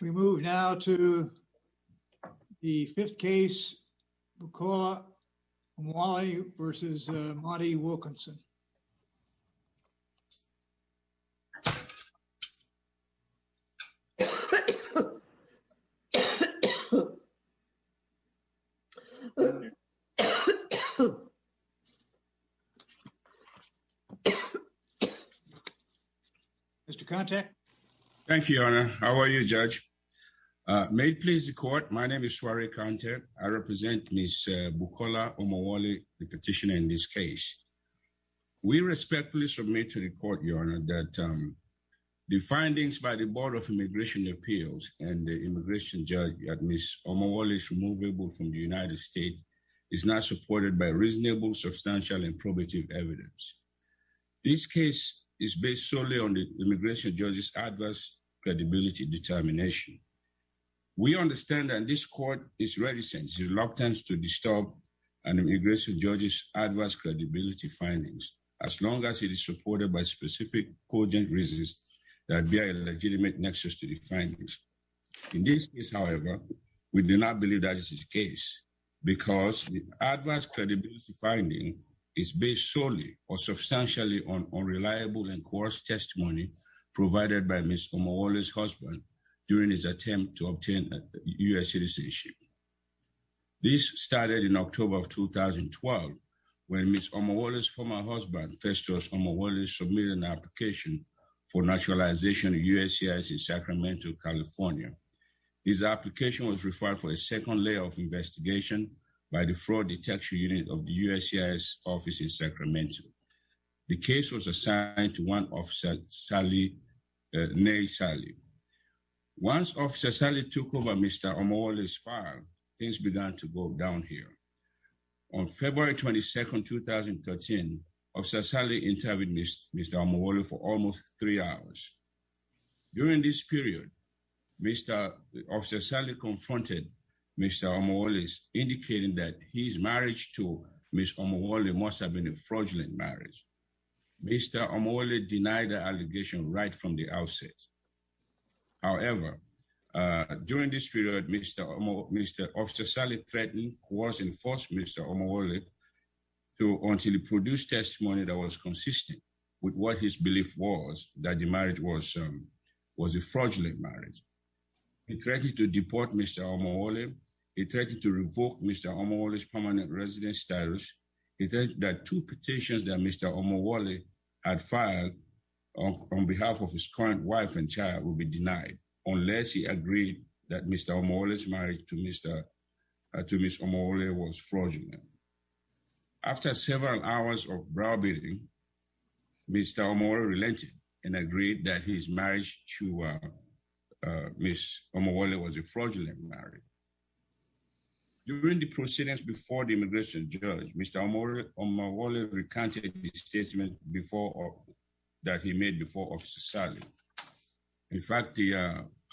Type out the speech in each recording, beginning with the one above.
We move now to the fifth case, Bukola Omowole v. Monty Wilkinson. Mr. Kante. Thank you, Your Honor. How are you, Judge? May it please the Court, my name is Soare Kante. I represent Ms. Bukola Omowole, the petitioner in this case. We respectfully submit to the Court, Your Honor, that the findings by the Board of Immigration Appeals and the immigration judge that Ms. Omowole is removable from the United States is not supported by reasonable, substantial, and probative evidence. This case is based solely on the immigration judge's adverse credibility determination. We understand that this Court is reticent, reluctant to disturb an immigration judge's adverse credibility findings as long as it is supported by specific cogent reasons that bear a legitimate nexus to the findings. In this case, however, we do not believe that is the case because the adverse credibility finding is based solely or substantially on unreliable and coerced testimony provided by Ms. Omowole's husband during his attempt to obtain U.S. citizenship. This started in an application for naturalization of USCIS in Sacramento, California. This application was referred for a second layer of investigation by the Fraud Detection Unit of the USCIS Office in Sacramento. The case was assigned to one Officer Salih, Nail Salih. Once Officer Salih took over Mr. Omowole's file, things began to go down here. On February 22, 2013, Officer Salih interviewed Mr. Omowole for almost three hours. During this period, Officer Salih confronted Mr. Omowole, indicating that his marriage to Ms. Omowole must have been a fraudulent marriage. Mr. Omowole denied the allegation right from the outset. However, during this period, Officer Salih threatened, coerced, and forced Mr. Omowole to produce testimony that was consistent with what his belief was, that the marriage was a fraudulent marriage. He threatened to deport Mr. Omowole. He threatened to revoke Mr. Omowole's permanent residence status. He said that two petitions that Mr. Omowole had filed on behalf of his current wife and child would be denied unless he agreed that Mr. Omowole's marriage to Ms. Omowole was fraudulent. After several hours of brawling, Mr. Omowole relented and agreed that his marriage to Ms. Omowole was a fraudulent marriage. During the proceedings before the immigration judge, Mr. Omowole recanted the statement that he made before Officer Salih. In fact,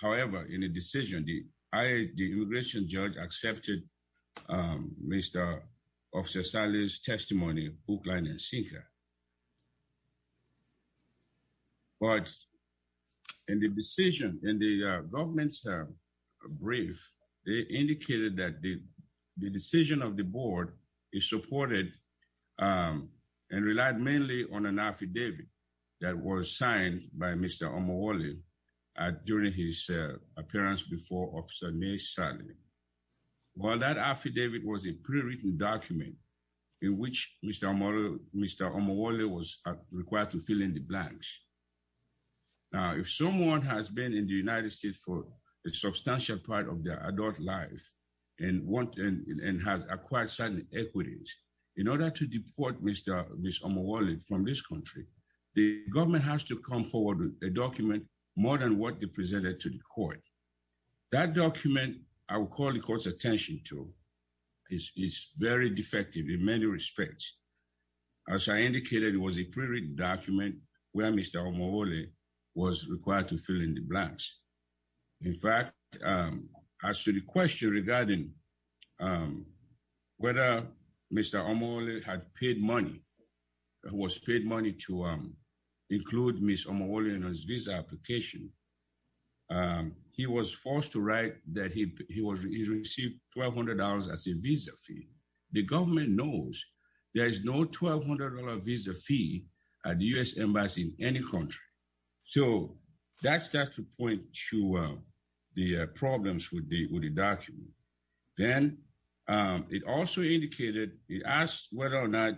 however, in the decision, the immigration judge accepted Mr. Officer Salih's testimony, book, line, and sinker. But in the decision, in the government's brief, they indicated that the decision of the board is supported and relied mainly on an affidavit that was signed by Mr. Omowole during his appearance before Officer May Salih. Well, that affidavit was a pre-written document in which Mr. Omowole was required to fill in the blanks. Now, if someone has been in the United States, in order to deport Mr. Omowole from this country, the government has to come forward with a document more than what they presented to the court. That document I would call the court's attention to is very defective in many respects. As I indicated, it was a pre-written document where Mr. Omowole was required to fill in the blanks. In fact, as to the question regarding whether Mr. Omowole had paid money, was paid money to include Mr. Omowole in his visa application, he was forced to write that he received $1,200 as a visa fee. The government knows there is no $1,200 visa fee at the U.S. Embassy in any country. So that starts to point to the problems with the document. Then, it also indicated, it asked whether or not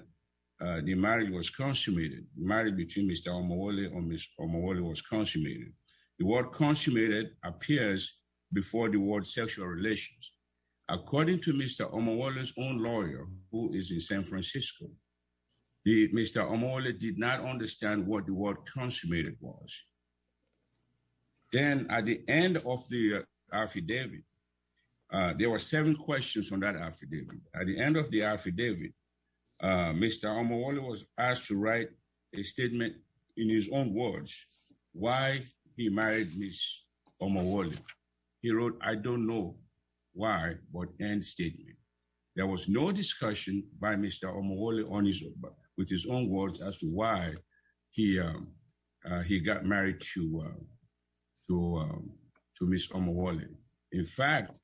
the marriage was consummated, the marriage between Mr. Omowole and Ms. Omowole was consummated. The word consummated appears before the word sexual relations. According to Mr. Omowole's own lawyer, who is in San Francisco, Mr. Omowole did not understand what the word consummated was. Then, at the end of the affidavit, there were seven questions on that affidavit. At the end of the affidavit, Mr. Omowole was asked to write a statement in his own words, why he married Ms. Omowole. He wrote, I don't know why, but end statement. There was no discussion by Mr. Omowole with his own words as to why he got married to Ms. Omowole. In fact,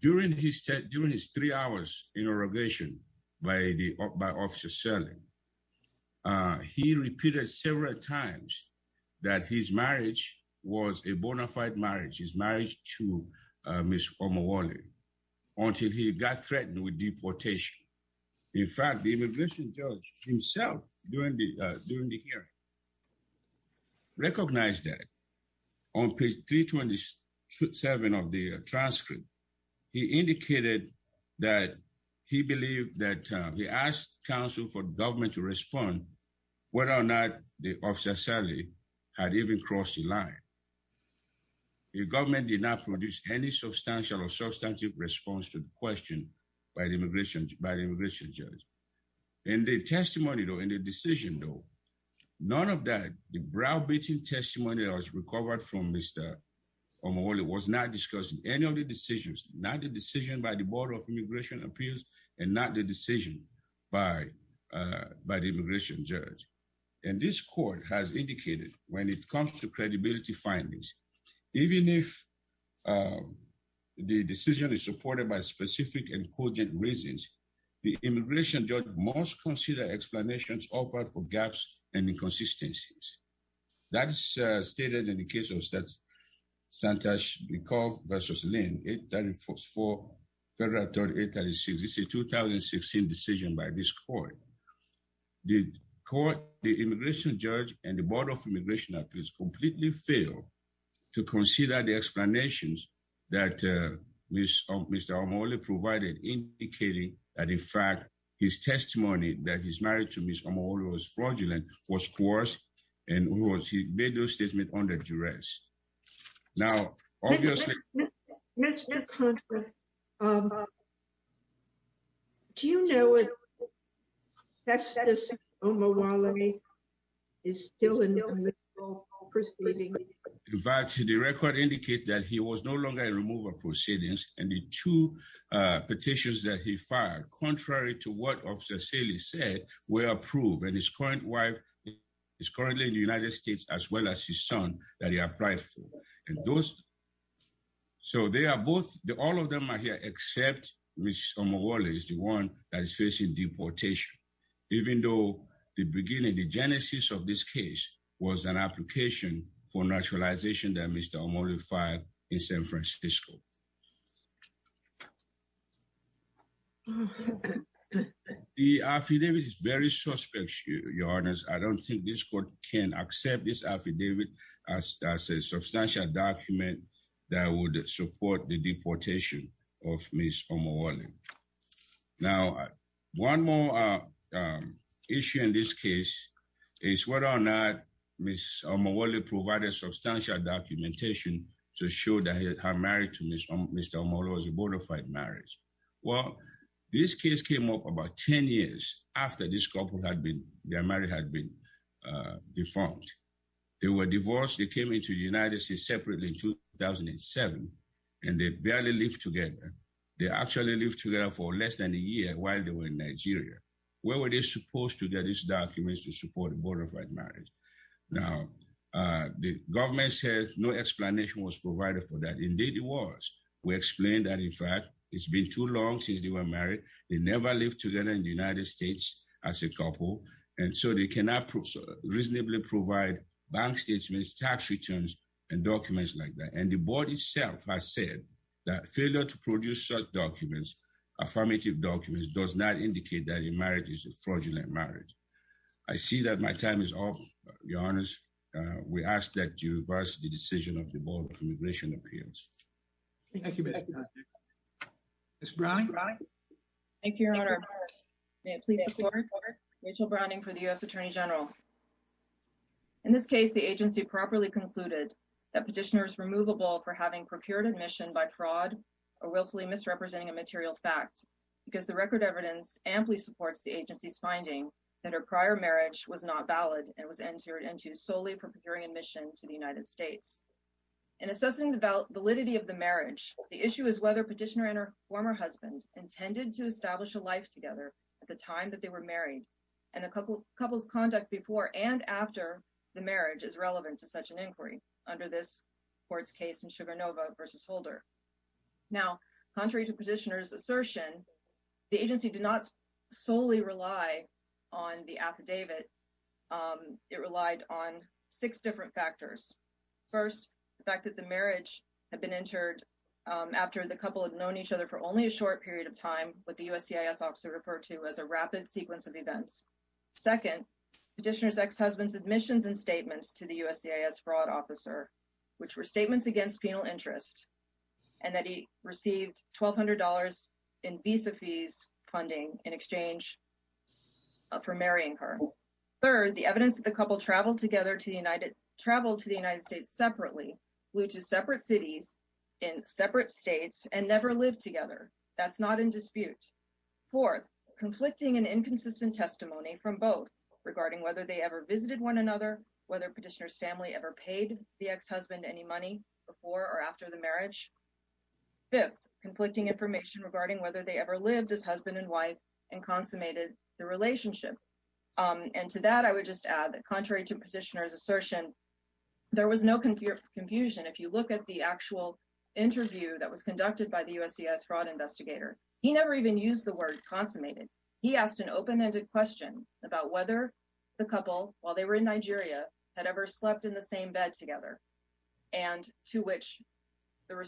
during his three hours in irrigation by Officer Serling, he repeated several times that his marriage was a bona fide marriage, his marriage to Ms. Omowole, until he got threatened with deportation. In fact, the immigration judge himself during the hearing recognized that. On page 327 of the transcript, he indicated that he believed that he asked counsel for government to respond whether or not the Officer Serling had even crossed the line. The government did not produce any substantial or substantive response to the question by the immigration judge. In the testimony though, in the decision though, none of that, the browbeating testimony that was recovered from Mr. Omowole was not discussing any of the decisions, not the decision by the Board of Immigration Appeals and not the decision by the immigration judge. This court has indicated when it comes to credibility findings, even if the decision is supported by specific and cogent reasons, the immigration judge must consider explanations offered for gaps and inconsistencies. That's stated in the case of Santosh Mikov v. Lynn, 834, Federal Authority, 836. It's a 2016 decision by this court. The court, the immigration judge and the Board of Immigration Appeals completely failed to consider the explanations that Mr. Omowole provided, indicating that, in fact, his testimony that he's married to Ms. Omowole was fraudulent, was coerced, and he made those statements under duress. Now, obviously- Mr. Contra, do you know if Justice Omowole is still in the middle of the proceeding? In fact, the record indicates that he was no longer in removal proceedings, and the two petitions that he fired, contrary to what Officer Saley said, were approved, and his current wife is currently in the United States, as well as his son that he applied for. So they are both- all of them are here, except Ms. Omowole is the one that is facing deportation, even though the beginning, the genesis of this case, was an application for naturalization that Mr. Omowole filed in San Francisco. The affidavit is very suspect, Your Honor. I don't think this court can accept this affidavit as a substantial document that would support the deportation of Ms. Omowole. Now, one more issue in this case is whether or not Ms. Omowole provided substantial documentation to show that her marriage to Mr. Omowole was a bona fide marriage. Well, this case came up about 10 years after this couple had been- their marriage had been defunct. They were divorced, they came into the United States separately in 2007, and they barely lived together. They actually lived together for less than a year while they were in Nigeria. Where were they supposed to get these documents to support a bona fide marriage? Now, the government says no explanation was provided for that. Indeed it was. We explained that, in fact, it's been too long since they were married. They never lived together in the United States as a couple, and so they cannot reasonably provide bank statements, tax returns, and documents like that. And the board itself has said that failure to produce such documents, affirmative documents, does not indicate that a marriage is a fraudulent marriage. I see that my time is up. Your Honor, we ask that you reverse the decision of the board for immigration appeals. Thank you, Mr. Justice. Ms. Browning? Thank you, Your Honor. May it please the court, Rachel Browning for the U.S. Attorney General. In this case, the agency properly concluded that petitioner is removable for having procured admission by fraud or willfully misrepresenting a material fact because the record evidence amply supports the agency's finding that her prior marriage was not valid and was entered into solely for procuring admission to the United States. In assessing the validity of the marriage, the issue is whether petitioner and her former husband intended to establish a life together at the time that they were married. And the couple's conduct before and after the marriage is relevant to such an inquiry under this court's case in Sugarnova v. Holder. Now, contrary to petitioner's assertion, the agency did not solely rely on the affidavit. It relied on six different factors. First, the fact that the marriage had been entered after the couple had known each other for only a short of time, what the USCIS officer referred to as a rapid sequence of events. Second, petitioner's ex-husband's admissions and statements to the USCIS fraud officer, which were statements against penal interest, and that he received $1,200 in visa fees funding in exchange for marrying her. Third, the evidence that the couple traveled together to the United States separately, flew to separate cities in separate states, and never lived together. That's not in dispute. Fourth, conflicting and inconsistent testimony from both regarding whether they ever visited one another, whether petitioner's family ever paid the ex-husband any money before or after the marriage. Fifth, conflicting information regarding whether they ever lived as husband and wife and consummated the relationship. And to that, I would just add that contrary to if you look at the actual interview that was conducted by the USCIS fraud investigator, he never even used the word consummated. He asked an open-ended question about whether the couple, while they were in Nigeria, had ever slept in the same bed together. And to which the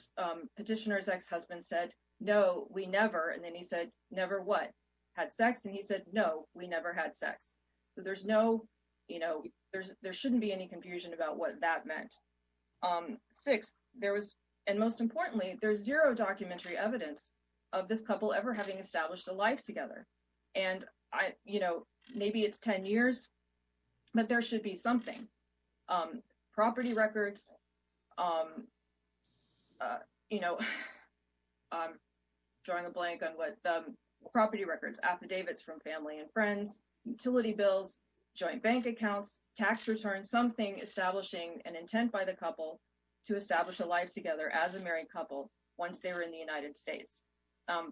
petitioner's ex-husband said, no, we never. And then he said, never what? Had sex? And he said, no, we never had sex. So there shouldn't be any confusion about what that Sixth, there was, and most importantly, there's zero documentary evidence of this couple ever having established a life together. And I, you know, maybe it's 10 years, but there should be something. Property records, you know, I'm drawing a blank on what, property records, affidavits from family and friends, utility bills, joint bank accounts, tax returns, something establishing an intent by the couple to establish a life together as a married couple once they were in the United States.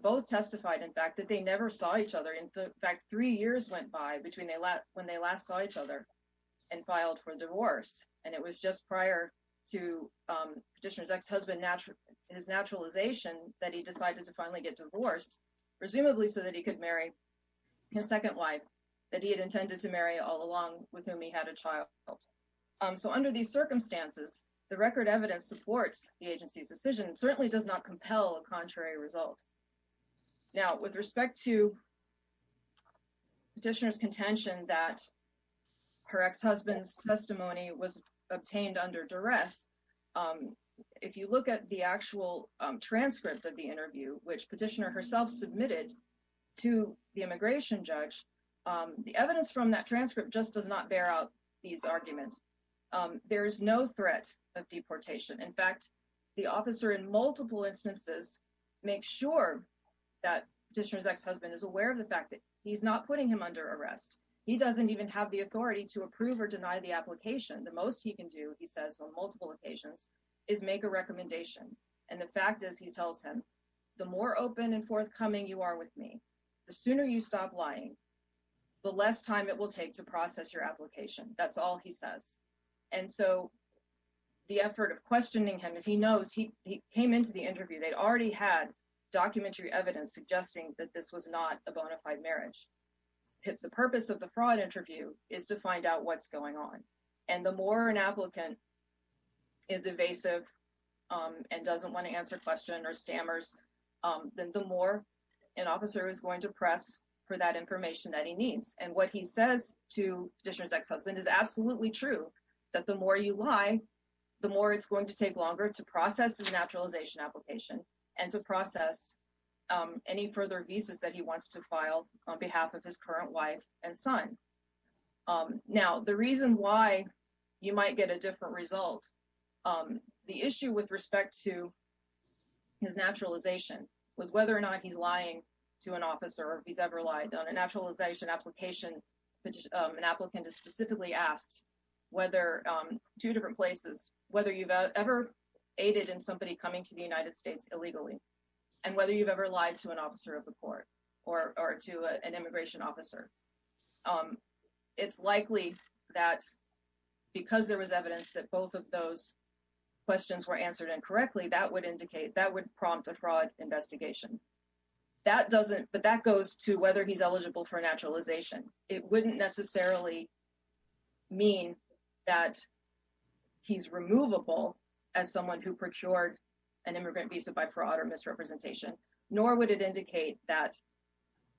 Both testified, in fact, that they never saw each other. In fact, three years went by between when they last saw each other and filed for divorce. And it was just prior to petitioner's ex-husband, his naturalization, that he decided to finally get divorced, presumably so that he could marry his second wife that he had intended to marry all along with whom he had a child. So under these circumstances, the record evidence supports the agency's decision, certainly does not compel a contrary result. Now, with respect to petitioner's contention that her ex-husband's testimony was obtained under duress, if you look at the actual transcript of the interview, which petitioner herself submitted to the immigration judge, the evidence from that transcript just does not bear out these arguments. There is no threat of deportation. In fact, the officer in multiple instances makes sure that petitioner's ex-husband is aware of the fact that he's not putting him under arrest. He doesn't even have the authority to approve or deny the application. The most he can do, he says on multiple occasions, is make a recommendation. And the fact is, he tells him, the more open and forthcoming you are with me, the sooner you stop lying, the less time it will take to process your application. That's all he says. And so the effort of questioning him, as he knows, he came into the interview, they'd already had documentary evidence suggesting that this was not a bona fide marriage. The purpose of the fraud interview is to find out what's going on. And the more an applicant is evasive and doesn't want to answer questions or stammers, then the more an officer is going to press for that information that he needs. And what he says to petitioner's ex-husband is absolutely true, that the more you lie, the more it's going to take longer to process his naturalization application and to process any further visas that he wants to file on behalf of current wife and son. Now, the reason why you might get a different result, the issue with respect to his naturalization was whether or not he's lying to an officer or if he's ever lied. On a naturalization application, an applicant is specifically asked two different places, whether you've ever aided in somebody coming to the United States illegally, and whether you've lied to an officer of the court or to an immigration officer. It's likely that because there was evidence that both of those questions were answered incorrectly, that would indicate, that would prompt a fraud investigation. That doesn't, but that goes to whether he's eligible for naturalization. It wouldn't necessarily mean that he's removable as someone who procured an immigrant visa by fraud or misrepresentation, nor would it indicate that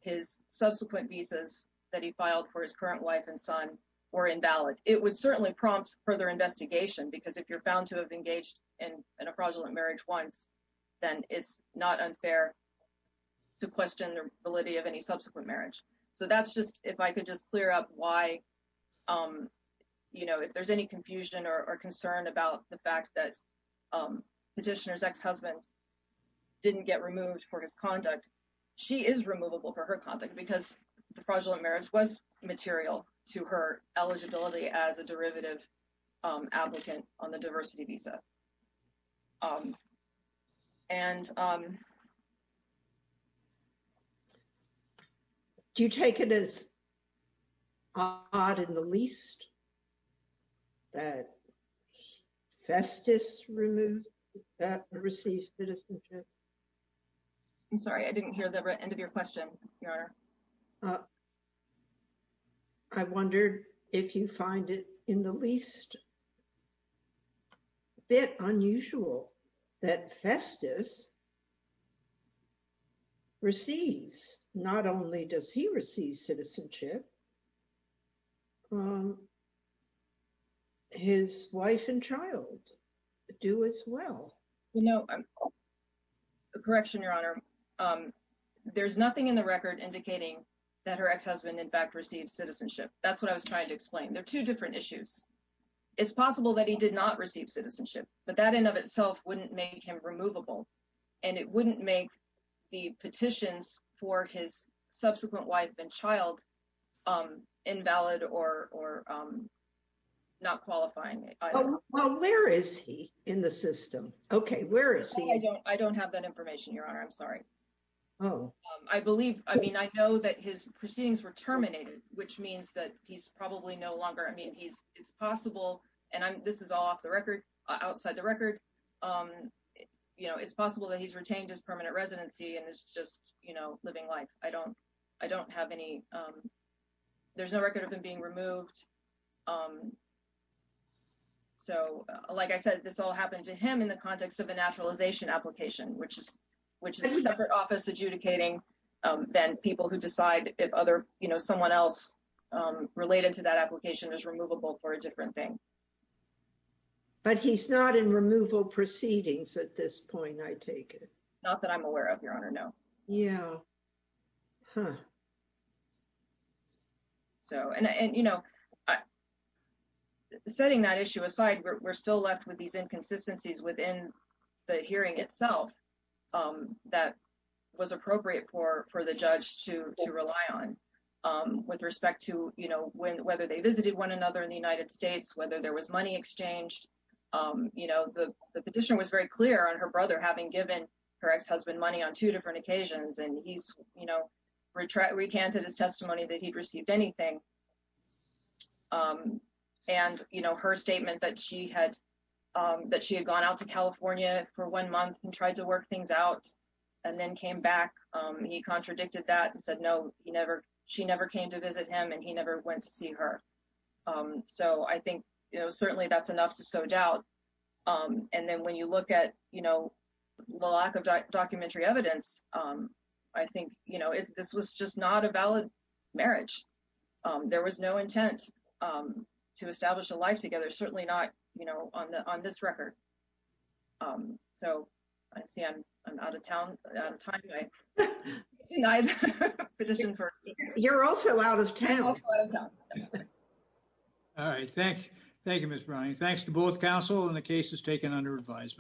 his subsequent visas that he filed for his current wife and son were invalid. It would certainly prompt further investigation because if you're found to have engaged in a fraudulent marriage once, then it's not unfair to question the validity of any subsequent marriage. So that's just, if I could just clear up why, you know, if there's any confusion or concern about the fact that petitioner's ex-husband didn't get removed for his conduct, she is removable for her conduct because the fraudulent marriage was material to her eligibility as a derivative applicant on the diversity visa. Do you take it as odd in the least that Festus removed or received citizenship? I'm sorry, I didn't hear the end of your question, Your Honor. I wondered if you find it in the least bit unusual that Festus receives, not only does he receive citizenship, his wife and child do as well. You know, correction, Your Honor. There's nothing in the record indicating that her ex-husband in fact received citizenship. That's what I was trying to explain. They're two different issues. It's possible that he did not receive citizenship, but that in of itself wouldn't make him removable and it wouldn't make the petitions for his subsequent wife and child invalid or not qualifying. Well, where is he in the system? Okay, where is he? I don't have that information, Your Honor. I'm sorry. Oh. I believe, I mean, I know that his proceedings were terminated, which means that he's probably no longer, I mean, it's possible, and this is all off the record, outside the record, you know, it's possible that he's retained his permanent residency and is just, you know, living life. I don't have any, there's no record of him being removed. So, like I said, this all happened to him in the context of a naturalization application, which is a separate office adjudicating than people who decide if other, you know, someone else related to that application is removable for a different thing. But he's not in removal proceedings at this point, I take it? Not that I'm aware of, Your Honor, no. Yeah. Huh. So, and, you know, setting that issue aside, we're still left with these inconsistencies within the hearing itself that was appropriate for the judge to rely on, with respect to, you know, whether they visited one another in the United States, whether there was money exchanged, you know, the petition was very clear on her brother having given her ex-husband money on two different occasions, and he's, you know, recanted his testimony that he'd received anything, you know, and, you know, her statement that she had, that she had gone out to California for one month and tried to work things out, and then came back, he contradicted that and said, no, he never, she never came to visit him, and he never went to see her. So, I think, you know, certainly that's enough to sow doubt. And then when you look at, you know, the lack of documentary evidence, I think, you know, this was just not a valid marriage. There was no intent to establish a life together, certainly not, you know, on the, on this record. So, I see I'm out of town, out of time tonight. You're also out of town. All right. Thank you, Ms. Browning. Thanks to both counsel and the cases taken under advisement.